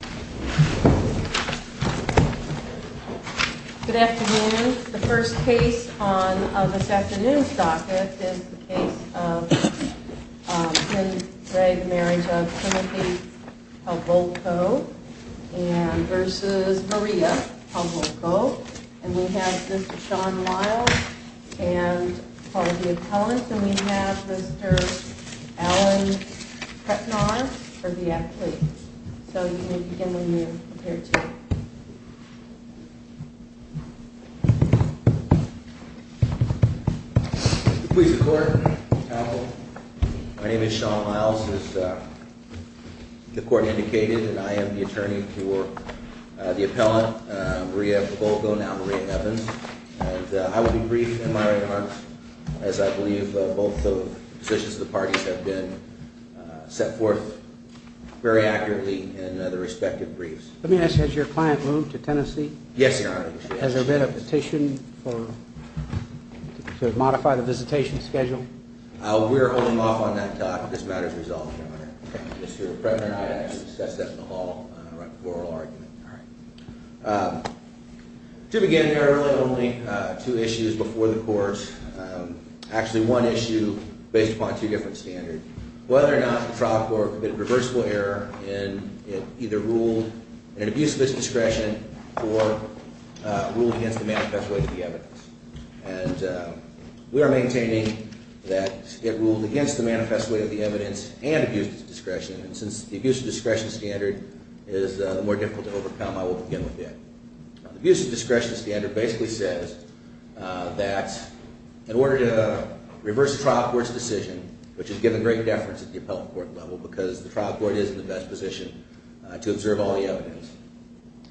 Good afternoon. The first case on this afternoon's docket is the case of Tim Gray, the marriage of Timothy Pavolco versus Maria Pavolco. And we have Mr. Sean Lyle and Paul Deappellant and we have Mr. Alan Kretnor for the appellate. So you may begin when you're prepared to. Please be clear. My name is Sean Lyle, as the court indicated, and I am the attorney for the appellant, Maria Pavolco, now Maria Evans. And I will be brief in my remarks, as I believe both of the positions of the parties have been set forth very accurately in the respective briefs. Let me ask, has your client moved to Tennessee? Yes, Your Honor. Has there been a petition to modify the visitation schedule? We're holding off on that talk. This matter is resolved, Your Honor. Mr. President, I have discussed that in the hall, the oral argument. To begin, there are really only two issues before the court, actually one issue based upon two different standards. Whether or not the trial court committed a reversible error in it either ruled an abuse of its discretion or ruled against the manifest way of the evidence. And we are maintaining that it ruled against the manifest way of the evidence and abused its discretion. And since the abuse of discretion standard is more difficult to overcome, I will begin with that. The abuse of discretion standard basically says that in order to reverse a trial court's decision, which is given great deference at the appellate court level because the trial court is in the best position to observe all the evidence,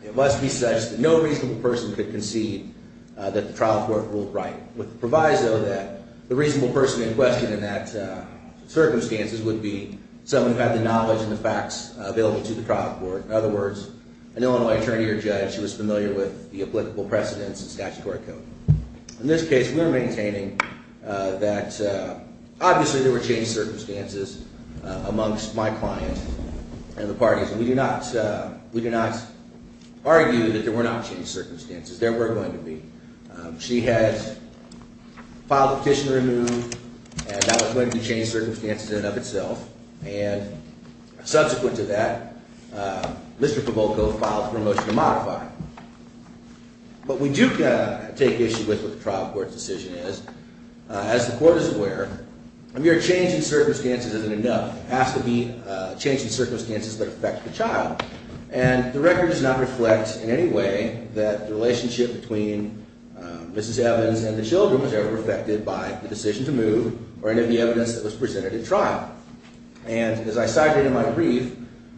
it must be such that no reasonable person could concede that the trial court ruled right. With the proviso that the reasonable person in question in circumstances would be someone who had the knowledge and the facts available to the trial court. In other words, an Illinois attorney or judge who is familiar with the applicable precedents and statutory code. In this case, we are maintaining that obviously there were changed circumstances amongst my client and the parties. And we do not argue that there were not changed circumstances. There were going to be. She had filed a petition to remove and that was going to be changed circumstances in and of itself. And subsequent to that, Mr. Pavolko filed for a motion to modify. But we do take issue with what the trial court's decision is. As the court is aware, a mere change in circumstances isn't enough. It has to be a change in circumstances that affect the child. And the record does not reflect in any way that the relationship between Mrs. Evans and the children was ever affected by the decision to move or any of the evidence that was presented in trial. And as I cited in my brief,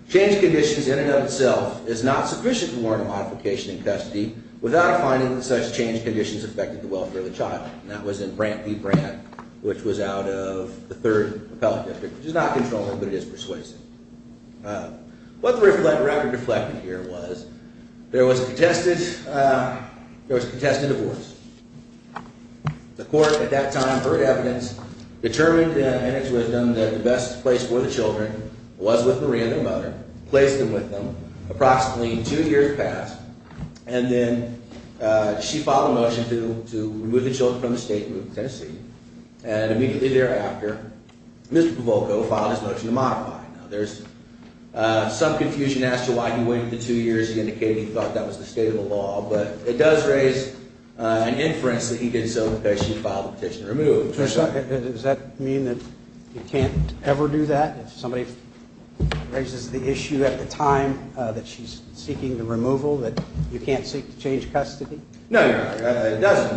change in conditions in and of itself is not sufficient for modification in custody without finding that such change in conditions affected the welfare of the child. And that was in Brandt v. Brandt, which was out of the Third Appellate District, which is not controlling, but it is persuasive. What the record reflected here was there was contested divorce. The court at that time heard evidence, determined in its wisdom that the best place for the children was with Maria, their mother, placed them with them, approximately two years passed, and then she filed a motion to remove the children from the state of Tennessee. And immediately thereafter, Mr. Pavolko filed his motion to modify. Now there's some confusion as to why he waited the two years. He indicated he thought that was the state of the law. But it does raise an inference that he did so because she filed the petition to remove the children. Does that mean that you can't ever do that? If somebody raises the issue at the time that she's seeking the removal, that you can't seek to change custody? No, Your Honor. It doesn't.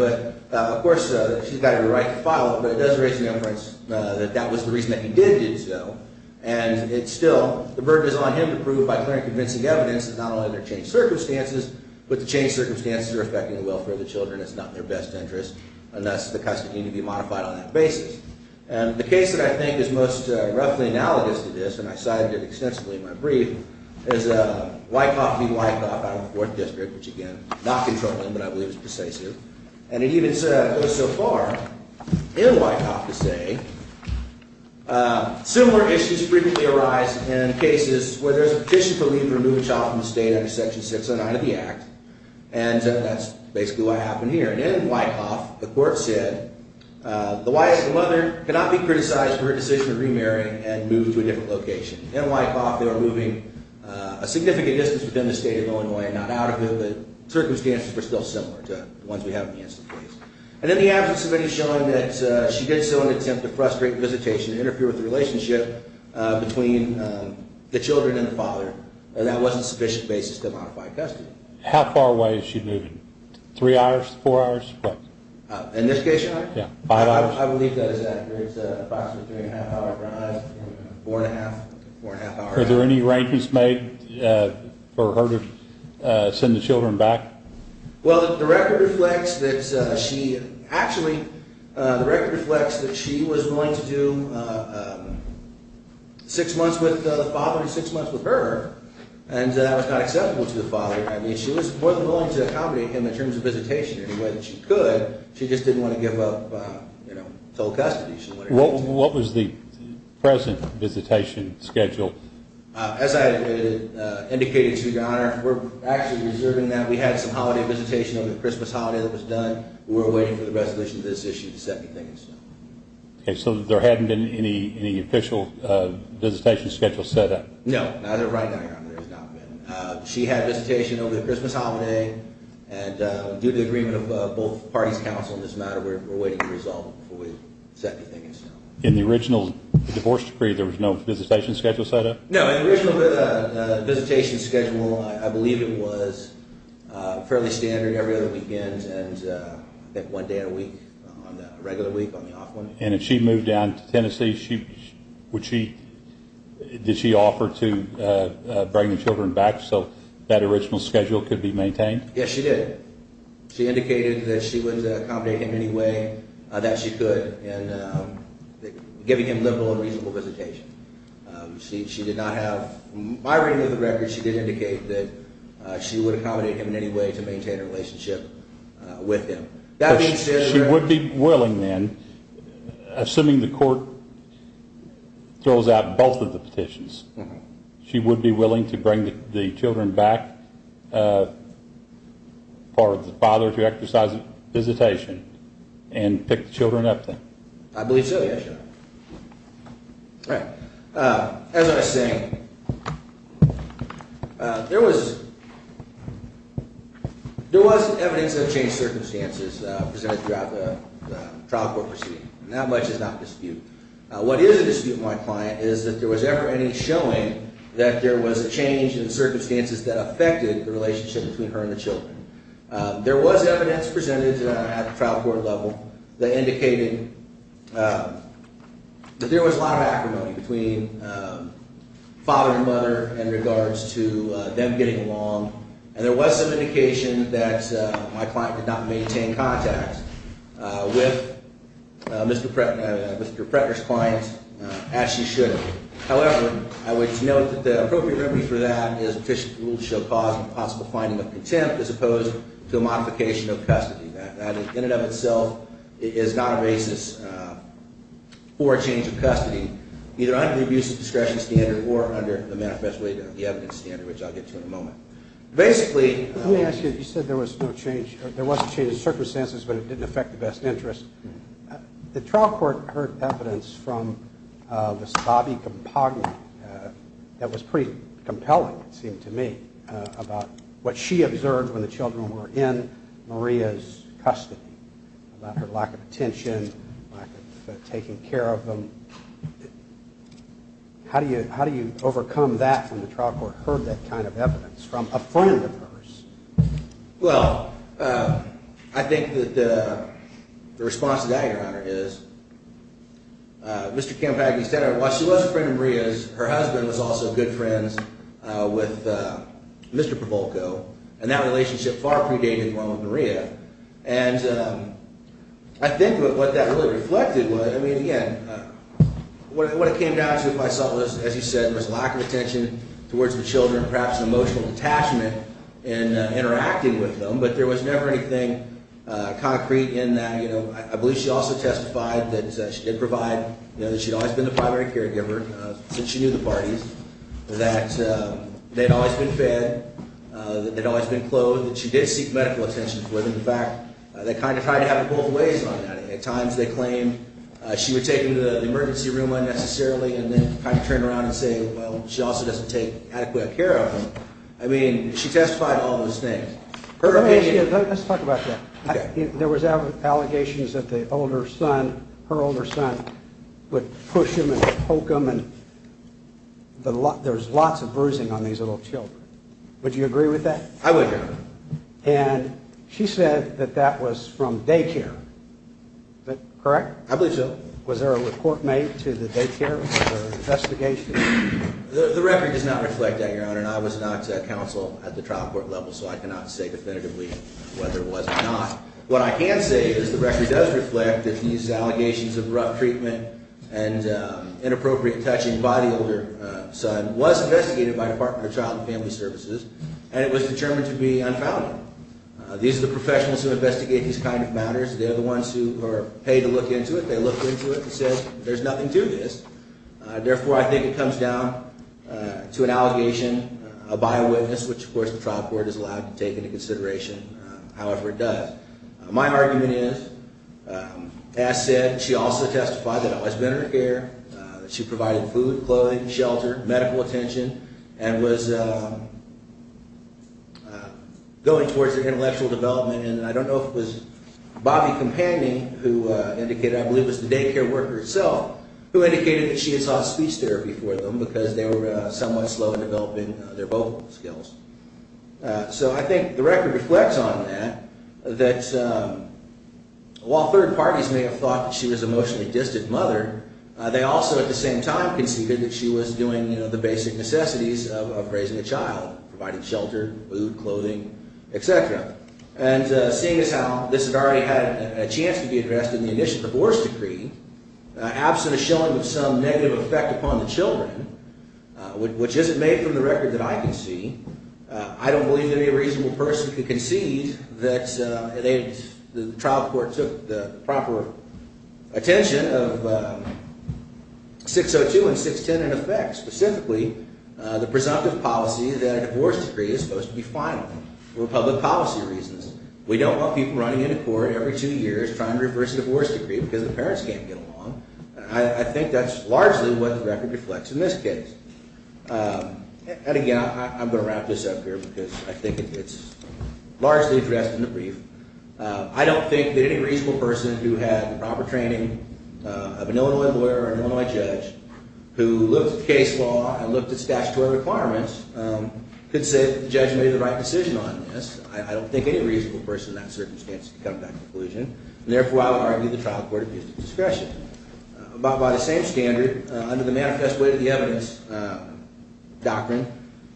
But of course, she's got to be right to file it. But it does raise the inference that that was the reason that he did do so. And it's still, the burden is on him to prove by clear and convincing evidence that not only are there changed circumstances, but the changed circumstances are affecting the welfare of the children. It's not in their best interest unless the custody need to be modified on that basis. And the case that I think is most roughly analogous to this, and I cited it extensively in my brief, is Wyckoff v. Wyckoff out of the 4th District, which again, not controlling, but I believe is persuasive. And it even goes so far in Wyckoff to say, similar issues frequently arise in cases where there's a petition for leave to remove a child from the state under Section 609 of the Act. And that's basically what happened here. And in Wyckoff, the court said, the wife and mother cannot be criticized for her decision to remarry and move to a different location. In Wyckoff, they were moving a significant distance within the state of Illinois and not out of it, but circumstances were still similar to the ones we have in the instant case. And then the absence of any showing that she did so in an attempt to frustrate visitation and between the children and the father, that wasn't a sufficient basis to modify custody. How far away is she moving? Three hours? Four hours? In this case, Your Honor? Yeah. Five hours? I believe that is accurate. It's approximately a three and a half hour drive. Four and a half. Four and a half hours. Are there any arrangements made for her to send the children back? Well, the record reflects that she was willing to do six months with the father and six months with her. And that was not acceptable to the father. She was more than willing to accommodate him in terms of visitation in any way that she could. She just didn't want to give up total custody. What was the present visitation schedule? As I indicated to Your Honor, we're actually reserving that. We had some holiday visitation over the Christmas holiday that was done. We're waiting for the resolution of this issue to set the thing in stone. Okay. So there hadn't been any official visitation schedule set up? No. Neither right now, Your Honor. There has not been. She had visitation over the Christmas holiday, and due to the agreement of both parties' counsel in this matter, we're waiting to resolve it before we set anything in stone. In the original divorce decree, there was no visitation schedule set up? No. The original visitation schedule, I believe it was fairly standard every other weekend, and I think one day a week on the regular week, on the off one. And if she moved down to Tennessee, did she offer to bring the children back so that original schedule could be maintained? Yes, she did. She indicated that she would accommodate him in any way that she could in giving him livable and reasonable visitation. She did not have my reading of the record. She did indicate that she would accommodate him in any way to maintain a relationship with him. She would be willing then, assuming the court throws out both of the petitions, she would be willing to bring the children back for the father to exercise visitation and pick the children up then? I believe so, yes, Your Honor. All right. As I was saying, there was evidence that changed circumstances presented throughout the trial court proceeding, and that much is not disputed. What is a dispute with my client is that there was ever any showing that there was a change in circumstances that affected the relationship between her and the children. There was evidence presented at the trial court level that indicated that there was a lot of acrimony between father and mother in regards to them getting along, and there was some indication that my client did not maintain contact with Mr. Pretner's client as she should have. However, I would note that the appropriate remedy for that is an official rule to show cause and possible finding of contempt as opposed to a modification of custody. That in and of itself is not a basis for a change of custody, either under the abuse of discretion standard or under the manifesto evidence standard, which I'll get to in a moment. Basically, let me ask you, you said there was no change, there was a change in circumstances, but it didn't affect the best interest. The trial court heard evidence from Ms. Bobby Campagna that was pretty compelling, it seemed to me, about what she observed when the children were in Maria's custody, about her lack of attention, lack of taking care of them. How do you overcome that when the trial court heard that kind of evidence from a friend of hers? Well, I think that the response to that, Your Honor, is Mr. Campagna said, while she was a friend of Maria's, her husband was also good friends with Mr. Provolco, and that relationship far predated the one with Maria. And I think that what that really reflected was, I mean, again, what it came down to, as you said, was a lack of attention towards the children, perhaps an emotional detachment in interacting with them, but there was never anything concrete in that. I believe she also testified that she did provide, that she'd always been the primary caregiver since she knew the parties, that they'd always been fed, that they'd always been clothed, that she did seek medical attention for them. In fact, they kind of tried to have it both ways on that. At times they claimed she would take them to the emergency room unnecessarily and then kind of turn around and say, well, she also doesn't take adequate care of them. I mean, she testified to all those things. Let's talk about that. There was allegations that the older son, her older son, would push him and poke him, and there's lots of bruising on these little children. Would you agree with that? I would, Your Honor. And she said that that was from daycare. Is that correct? I believe so. Was there a report made to the daycare or an investigation? The record does not reflect that, Your Honor, and I was not counsel at the trial court level so I cannot say definitively whether it was or not. What I can say is the record does reflect that these allegations of rough treatment and inappropriate touching by the older son was investigated by the Department of Child and Family Services, and it was determined to be unfounded. These are the professionals who investigate these kinds of matters. They're the ones who are paid to look into it. They looked into it and said there's nothing to this. Therefore, I think it comes down to an allegation by a witness, which, of course, the trial court is allowed to take into consideration however it does. My argument is, as said, she also testified that it was been her care, that she provided food, clothing, shelter, medical attention, and was going towards her intellectual development, and I don't know if it was Bobbie Companion who indicated, I believe it was the daycare worker herself, who indicated that she had sought speech therapy for them because they were somewhat slow in developing their vocal skills. So I think the record reflects on that, that while third parties may have thought that she was a emotionally distant mother, they also at the same time conceded that she was doing the basic necessities of raising a child, providing shelter, food, clothing, etc. And seeing as how this had already had a chance to be addressed in the initial divorce decree, absent a showing of some negative effect upon the children, which isn't made from the record that I can see, I don't believe any reasonable person could concede that the trial court took the proper attention of 602 and 610 in effect, specifically the presumptive policy that a divorce decree is supposed to be final for public policy reasons. We don't want people running into court every two years trying to reverse a divorce decree because the parents can't get along. I think that's largely what the record reflects in this case. And again, I'm going to wrap this up here because I think it's largely addressed in the brief. I don't think that any reasonable person who had the proper training of an Illinois lawyer or an Illinois judge who looked at case law and looked at statutory requirements could say that the judge made the right decision on this. I don't think any reasonable person in that circumstance could come to that conclusion, and therefore I would argue the trial court abused its discretion. By the same standard, under the manifest way of the evidence doctrine,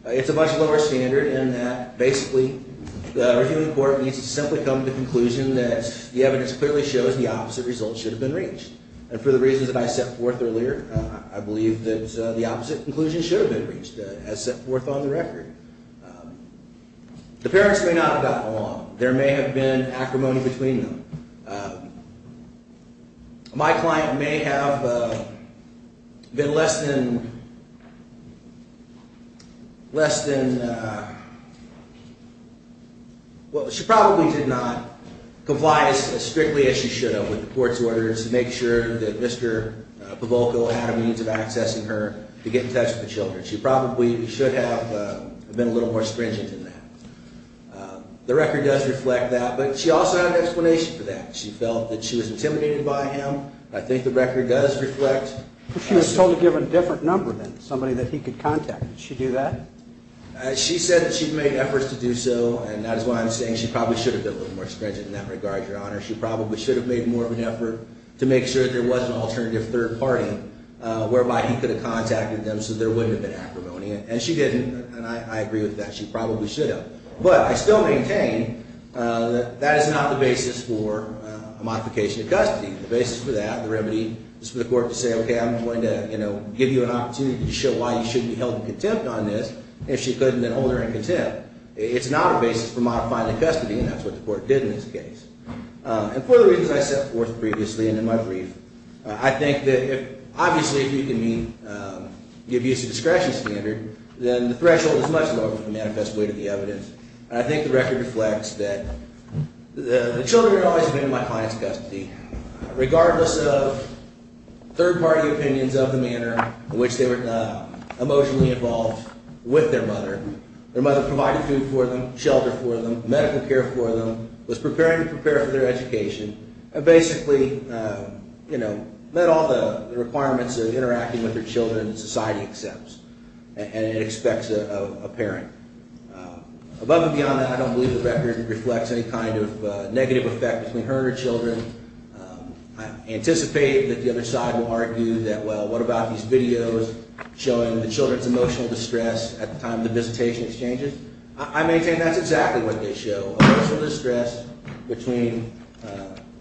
it's a much lower standard in that basically the reviewing court needs to simply come to the conclusion that the evidence clearly shows the opposite result should have been reached. And for the reasons that I set forth earlier, I believe that the opposite conclusion should have been reached as set forth on the record. The parents may not have gotten along. There may have been acrimony between them. My client may have been less than... Well, she probably did not comply as strictly as she should have with the court's orders to make sure that Mr. Pavolco had a means of accessing her to get in touch with the children. She probably should have been a little more stringent in that. The record does reflect that, but she also had an explanation for that. She felt that she was intimidated by him. I think the record does reflect... But she was told to give a different number than somebody that he could contact. Did she do that? She said that she made efforts to do so, and that is why I'm saying she probably should have been a little more stringent in that regard, Your Honor. She probably should have made more of an effort to make sure that there was an alternative third party whereby he could have contacted them so there wouldn't have been acrimony. And she didn't, and I agree with that. She probably should have. But I still maintain that that is not the basis for a modification of custody. The basis for that, the remedy, is for the court to say, okay, I'm going to give you an opportunity to show why you should be held in contempt on this. If she couldn't, then hold her in contempt. It's not a basis for modifying the custody, and that's what the court did in this case. And for the reasons I set forth previously and in my brief, I think that obviously if you can give use of discretion standard, then the threshold is much lower than the manifest way to the evidence. And I think the record reflects that the children had always been in my client's custody, regardless of third party opinions of the manner in which they were emotionally involved with their mother. Their mother provided food for them, shelter for them, medical care for them, was preparing to prepare for their education, and basically met all the requirements of interacting with their children that society accepts. And it expects a parent. Above and beyond that, I don't believe the record reflects any kind of negative effect between her and her children. I anticipate that the other side will argue that, well, what about these videos showing the children's emotional distress at the time of the visitation exchanges? I maintain that's exactly what they show, emotional distress between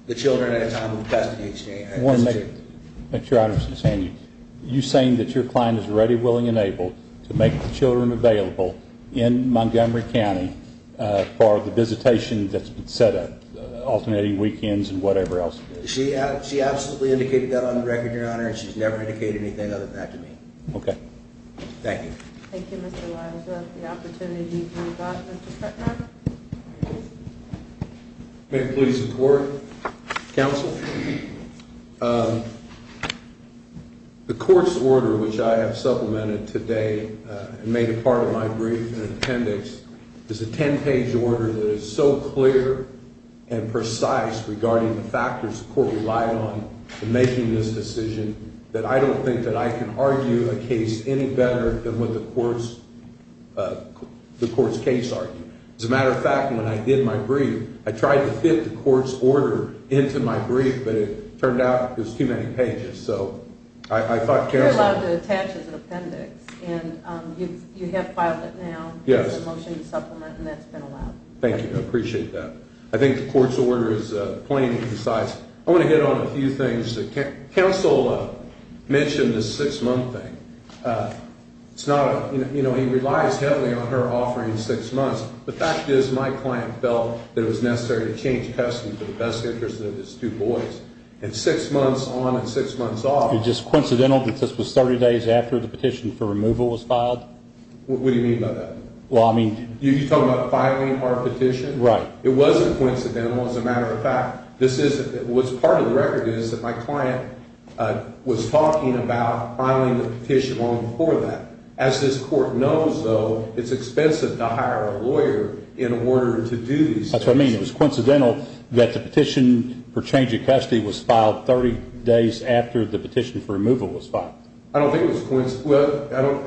the children at a time of the custody exchange. I want to make sure I understand you. You're saying that your client is ready, willing, and able to make the children available in Montgomery County for the visitation that's been set up, alternating weekends and whatever else? She absolutely indicated that on the record, Your Honor, and she's never indicated anything other than that to me. Okay. Thank you. Thank you, Mr. Liles. Is that the opportunity to move on, Mr. Kretner? May it please the Court. Counsel? The Court's order, which I have supplemented today and made a part of my brief and appendix, is a 10-page order that is so clear and precise regarding the factors the Court relied on in making this decision that I don't think that I can argue a case any better than what the Court's case argued. As a matter of fact, when I did my brief, I tried to fit the Court's order into my brief, but it turned out it was too many pages. So I thought counsel You're allowed to attach as an appendix, and you have filed it now. Yes. It's a motion to supplement, and that's been allowed. Thank you. I appreciate that. I think the Court's order is plain and precise. I want to hit on a few things. Counsel mentioned the six-month thing. He relies heavily on her offering six months. The fact is my client felt that it was necessary to change custody for the best interest of his two boys. And six months on and six months off It's just coincidental that this was 30 days after the petition for removal was filed? What do you mean by that? Well, I mean You're talking about filing our petition? Right. It wasn't coincidental. As a matter of fact, what's part of the record is that my client was talking about filing the petition long before that. As this Court knows, though, it's expensive to hire a lawyer in order to do these things. That's what I mean. It was coincidental that the petition for change of custody was filed 30 days after the petition for removal was filed? I don't think it was coincidental.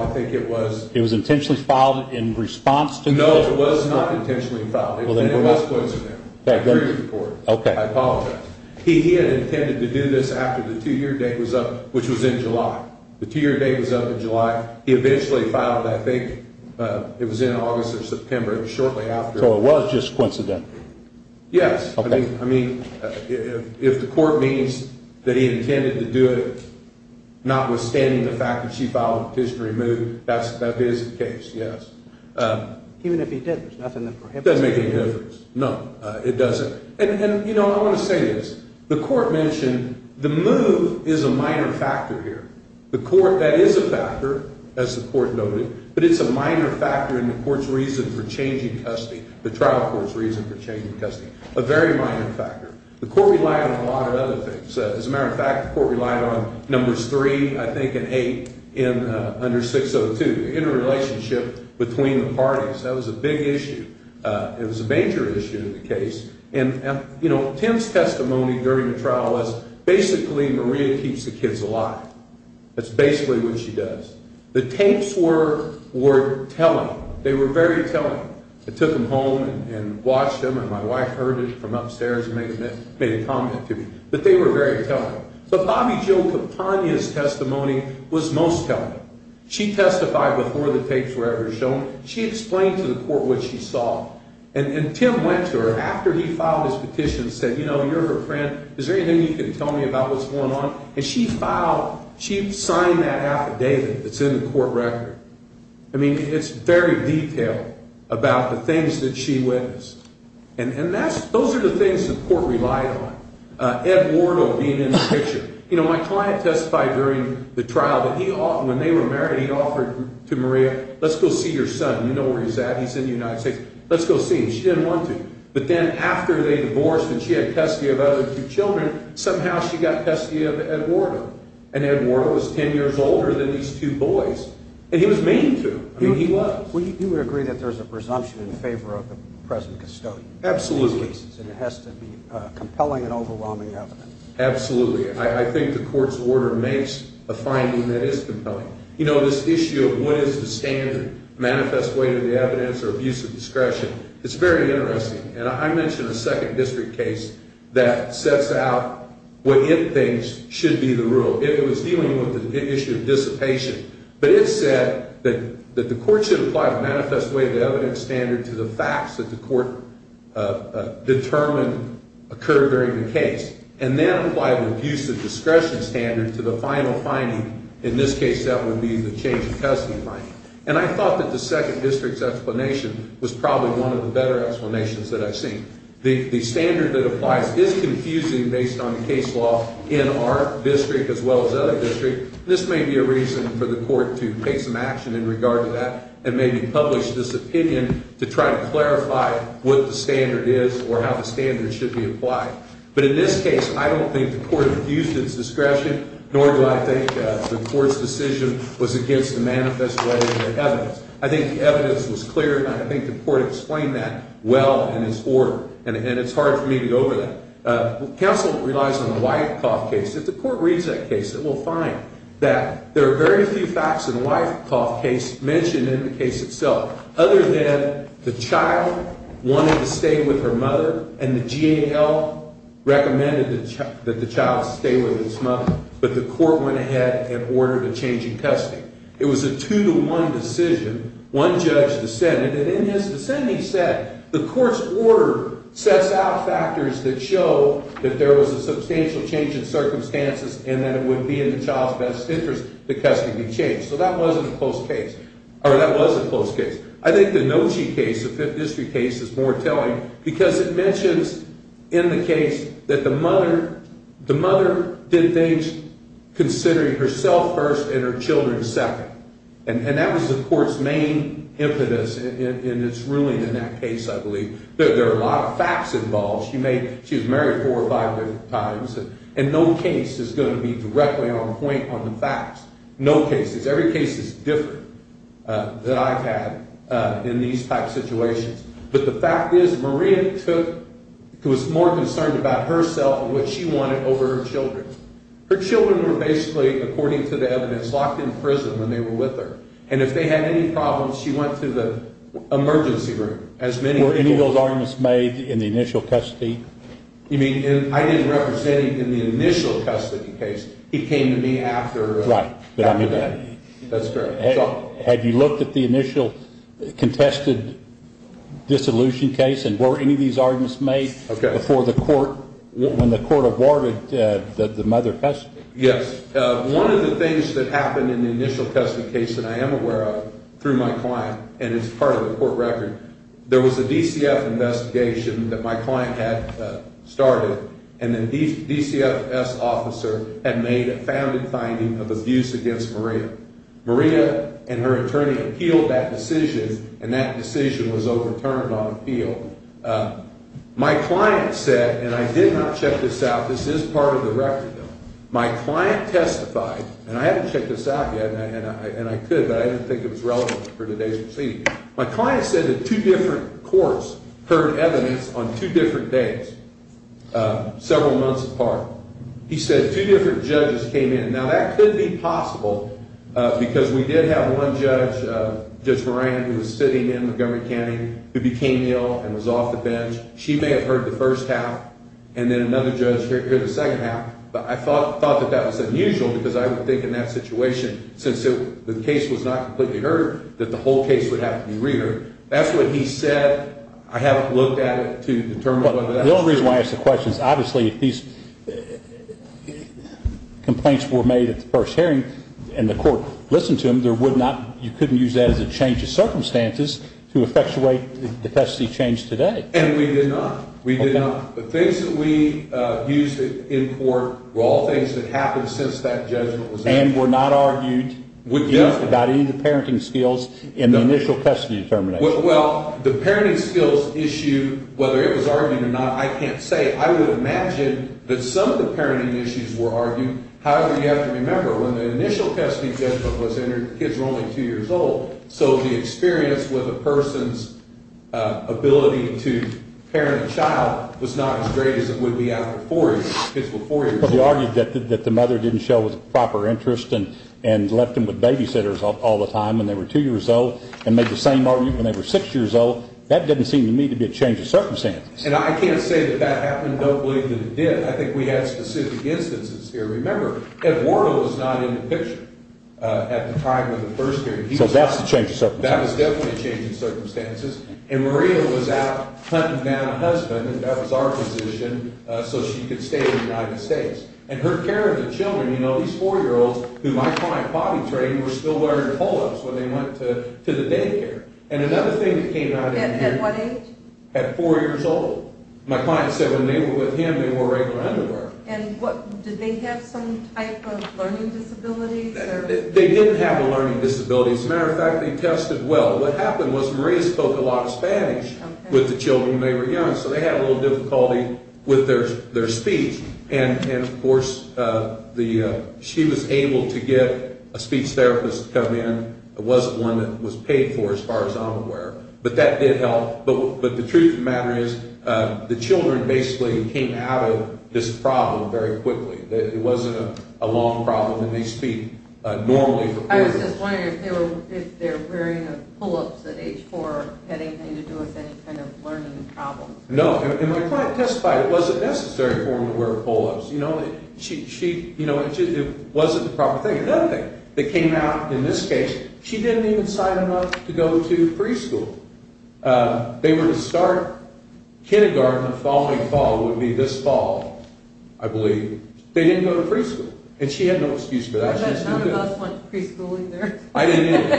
I think it was It was intentionally filed in response to the No, it was not intentionally filed. It was in response to them. Okay. I agree with the Court. Okay. I apologize. He had intended to do this after the two-year date was up, which was in July. The two-year date was up in July. He eventually filed it. I think it was in August or September. It was shortly after. So it was just coincidental? Yes. Okay. I mean, if the Court means that he intended to do it notwithstanding the fact that she filed a petition to remove, that is the case, yes. Even if he did, there's nothing that prohibits it? It doesn't make any difference. No, it doesn't. And, you know, I want to say this. The Court mentioned the move is a minor factor here. That is a factor, as the Court noted, but it's a minor factor in the Court's reason for changing custody, the trial court's reason for changing custody, a very minor factor. The Court relied on a lot of other things. As a matter of fact, the Court relied on Numbers 3, I think, and 8 under 602, the interrelationship between the parties. That was a big issue. It was a major issue in the case. And, you know, Tim's testimony during the trial was, basically, Maria keeps the kids alive. That's basically what she does. The tapes were telling. They were very telling. I took them home and watched them, and my wife heard it from upstairs and made a comment to me. But they were very telling. But Bobbie Jo Kapania's testimony was most telling. She testified before the tapes were ever shown. She explained to the Court what she saw. And Tim went to her after he filed his petition and said, you know, you're her friend. Is there anything you can tell me about what's going on? And she filed, she signed that affidavit that's in the Court record. I mean, it's very detailed about the things that she witnessed. And that's, those are the things the Court relied on. Ed Wardle being in the picture. You know, my client testified during the trial that he, when they were married, he offered to Maria, let's go see your son. You know where he's at. He's in the United States. Let's go see him. She didn't want to. But then after they divorced and she had testia of other two children, somehow she got testia of Ed Wardle. And Ed Wardle was 10 years older than these two boys. And he was mean to them. I mean, he was. You would agree that there's a presumption in favor of the present custodian in these cases. Absolutely. And it has to be compelling and overwhelming evidence. Absolutely. I think the Court's order makes a finding that is compelling. You know, this issue of what is the standard, manifest weight of the evidence or abuse of discretion, it's very interesting. And I mentioned a second district case that sets out what it thinks should be the rule. It was dealing with the issue of dissipation. But it said that the Court should apply the manifest weight of the evidence standard to the facts that the Court determined occurred during the case. And then apply the abuse of discretion standard to the final finding. In this case, that would be the change of custody finding. And I thought that the second district's explanation was probably one of the better explanations that I've seen. The standard that applies is confusing based on case law in our district as well as other districts. This may be a reason for the Court to take some action in regard to that and maybe publish this opinion to try to clarify what the standard is or how the standard should be applied. But in this case, I don't think the Court abused its discretion, nor do I think the Court's decision was against the manifest weight of the evidence. I think the evidence was clear, and I think the Court explained that well in its order. And it's hard for me to go over that. Counsel relies on the Wyckoff case. If the Court reads that case, it will find that there are very few facts in the Wyckoff case mentioned in the case itself, other than the child wanted to stay with her mother and the GAL recommended that the child stay with his mother. But the Court went ahead and ordered a change in custody. It was a two-to-one decision. One judge dissented, and in his dissent, he said the Court's order sets out factors that show that there was a substantial change in circumstances and that it would be in the child's best interest that custody be changed. So that wasn't a close case, or that was a close case. I think the Nochi case, the Fifth District case, is more telling because it mentions in the case that the mother did things considering herself first and her children second. And that was the Court's main impetus in its ruling in that case, I believe. There are a lot of facts involved. She was married four or five different times, and no case is going to be directly on point on the facts. No cases. Every case is different than I've had in these types of situations. But the fact is Maria was more concerned about herself and what she wanted over her children. Her children were basically, according to the evidence, locked in prison when they were with her. And if they had any problems, she went to the emergency room. Were any of those arguments made in the initial custody? You mean, I didn't represent him in the initial custody case. He came to me after that. Right. That's correct. Had you looked at the initial contested dissolution case, and were any of these arguments made before the court, when the court awarded the mother custody? Yes. One of the things that happened in the initial custody case that I am aware of through my client, and it's part of the court record, there was a DCF investigation that my client had started, and the DCFS officer had made a founded finding of abuse against Maria. Maria and her attorney appealed that decision, and that decision was overturned on appeal. My client said, and I did not check this out. This is part of the record, though. My client testified, and I haven't checked this out yet, and I could, but I didn't think it was relevant for today's proceeding. My client said that two different courts heard evidence on two different days, several months apart. He said two different judges came in. Now, that could be possible because we did have one judge, Judge Moran, who was sitting in Montgomery County, who became ill and was off the bench. She may have heard the first half, and then another judge heard the second half, but I thought that that was unusual because I would think in that situation, since the case was not completely heard, that the whole case would have to be re-heard. That's what he said. I haven't looked at it to determine whether that's true. The only reason why I ask the question is, obviously, if these complaints were made at the first hearing and the court listened to them, you couldn't use that as a change of circumstances to effectuate the testing change today. And we did not. We did not. The things that we used in court were all things that happened since that judgment was made. And were not argued about any of the parenting skills in the initial custody determination. Well, the parenting skills issue, whether it was argued or not, I can't say. I would imagine that some of the parenting issues were argued. However, you have to remember, when the initial custody judgment was entered, the kids were only two years old, so the experience with a person's ability to parent a child was not as great as it would be after four years. But we argued that the mother didn't show the proper interest and left them with babysitters all the time when they were two years old and made the same argument when they were six years old. That doesn't seem to me to be a change of circumstances. And I can't say that that happened. Don't believe that it did. I think we had specific instances here. Remember, Eduardo was not in the picture at the time of the first hearing. That was definitely a change of circumstances. And Maria was out hunting down a husband, and that was our position, so she could stay in the United States. And her care of the children, you know, these four-year-olds, who my client potty trained, were still wearing polos when they went to the daycare. And another thing that came out of here... At what age? At four years old. My client said when they were with him, they wore regular underwear. And did they have some type of learning disability? They didn't have a learning disability. As a matter of fact, they tested well. What happened was Maria spoke a lot of Spanish with the children when they were young, so they had a little difficulty with their speech. And, of course, she was able to get a speech therapist to come in. It wasn't one that was paid for, as far as I'm aware. But that did help. But the truth of the matter is, the children basically came out of this problem very quickly. I was just wondering if they're wearing polos at age four, had anything to do with any kind of learning problems. No, and my client testified it wasn't necessary for them to wear polos. You know, it wasn't the proper thing. Another thing that came out in this case, she didn't even sign them up to go to preschool. They were to start kindergarten the following fall. It would be this fall, I believe. They didn't go to preschool. And she had no excuse for that. None of us went to preschool either. I didn't either.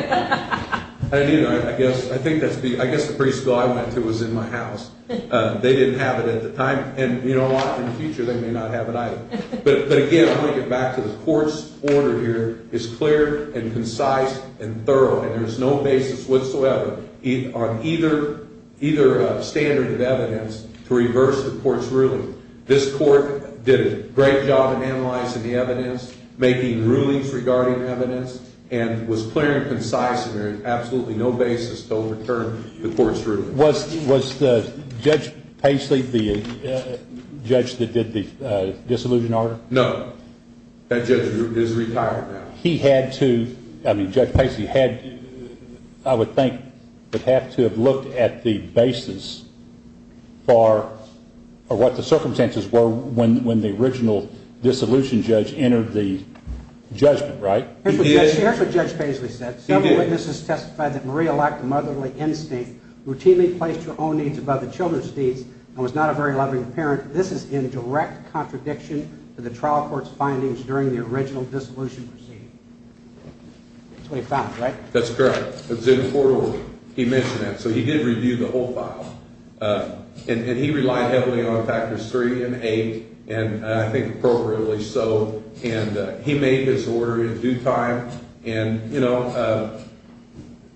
I didn't either. I guess the preschool I went to was in my house. They didn't have it at the time. And, you know, a lot from the future, they may not have it either. But, again, I'm going to get back to the court's order here is clear and concise and thorough, and there is no basis whatsoever on either standard of evidence to reverse the court's ruling. This court did a great job in analyzing the evidence, making rulings regarding evidence, and was clear and concise, and there is absolutely no basis to overturn the court's ruling. Was Judge Paisley the judge that did the disillusion order? No. That judge is retired now. He had to, I mean, Judge Paisley had, I would think, would have to have looked at the basis for what the circumstances were when the original disillusion judge entered the judgment, right? Here's what Judge Paisley said. Several witnesses testified that Maria lacked a motherly instinct, routinely placed her own needs above the children's deeds, and was not a very loving parent. This is in direct contradiction to the trial court's findings during the original disillusion proceeding. That's what you found, right? That's correct. It was in the court order. He mentioned that. So he did review the whole file, and he relied heavily on factors three and eight, and I think appropriately so, and he made his order in due time. And, you know,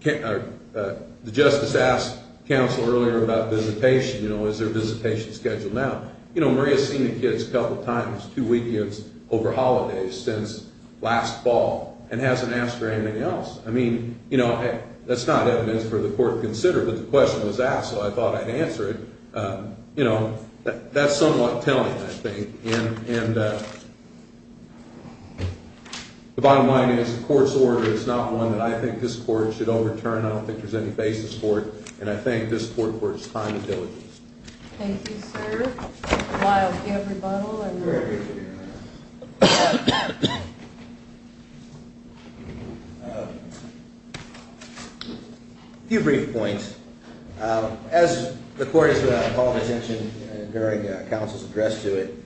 the justice asked counsel earlier about visitation. You know, is there a visitation schedule now? You know, Maria's seen the kids a couple times, two weekends over holidays since last fall, and hasn't asked for anything else. I mean, you know, that's not evidence for the court to consider, but the question was asked, so I thought I'd answer it. You know, that's somewhat telling, I think. And the bottom line is the court's order is not one that I think this court should overturn. I don't think there's any basis for it, and I think this court works time and diligence. Thank you, sir. Miles, do you have a rebuttal? A few brief points. As the court has called attention during counsel's address to it,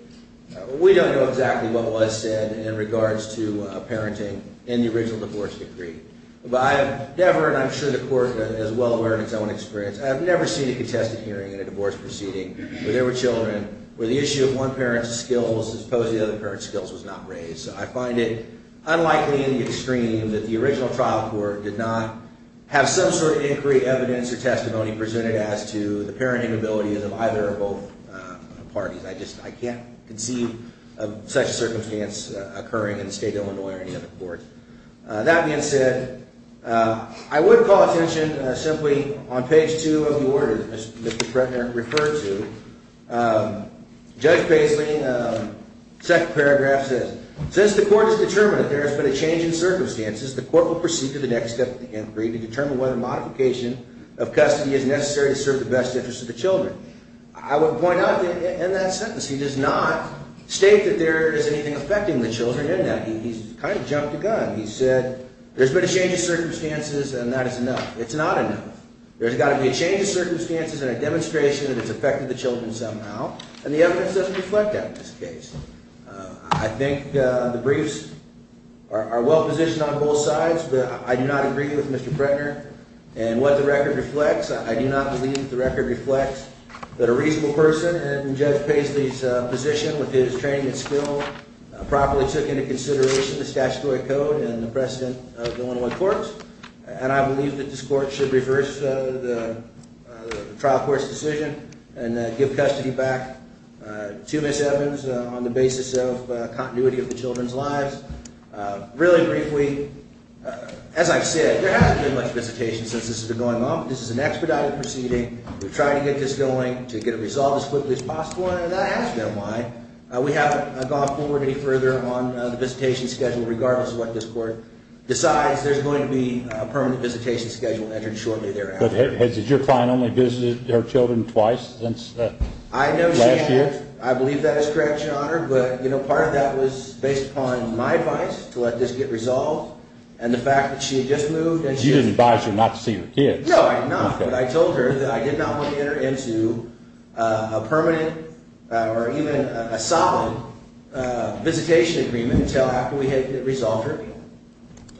we don't know exactly what was said in regards to parenting in the original divorce decree. But I have never, and I'm sure the court is well aware of its own experience, I've never seen a contested hearing in a divorce proceeding where there were children, where the issue of one parent's skills as opposed to the other parent's skills was not raised. So I find it unlikely in the extreme that the original trial court did not have some sort of inquiry, evidence, or testimony presented as to the parenting abilities of either or both parties. I just can't conceive of such a circumstance occurring in the state of Illinois or any other court. That being said, I would call attention simply on page 2 of the order that Mr. Prettner referred to. Judge Paisley, second paragraph says, Since the court has determined that there has been a change in circumstances, the court will proceed to the next step of the inquiry to determine whether modification of custody is necessary to serve the best interests of the children. I would point out in that sentence, he does not state that there is anything affecting the children in that. He's kind of jumped the gun. He said there's been a change in circumstances and that is enough. It's not enough. There's got to be a change in circumstances and a demonstration that it's affecting the children somehow, and the evidence doesn't reflect that in this case. I think the briefs are well positioned on both sides, but I do not agree with Mr. Prettner. And what the record reflects, I do not believe that the record reflects that a reasonable person, and Judge Paisley's position with his training and skill properly took into consideration the statutory code and the precedent of the 101 courts, and I believe that this court should reverse the trial court's decision and give custody back to Ms. Evans on the basis of continuity of the children's lives. Really briefly, as I said, there hasn't been much visitation since this has been going on, but this is an expedited proceeding. We're trying to get this going to get it resolved as quickly as possible, and I asked them why. We haven't gone forward any further on the visitation schedule regardless of what this court decides. There's going to be a permanent visitation schedule entered shortly thereafter. But did your client only visit her children twice since last year? I believe that is correct, Your Honor, but part of that was based upon my advice to let this get resolved and the fact that she had just moved. You didn't advise her not to see her kids. No, I did not, but I told her that I did not want to enter into a permanent or even a solid visitation agreement until after we had resolved her.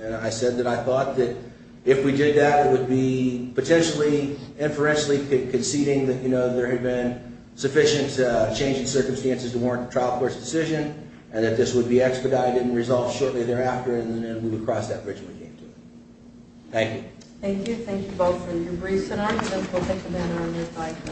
And I said that I thought that if we did that, it would be potentially inferentially conceding that there had been sufficient change in circumstances to warrant a trial court's decision and that this would be expedited and resolved shortly thereafter, and then we would cross that bridge when we came to it. Thank you. Thank you. Thank you both for your briefs and arguments. We'll take a minute on this item.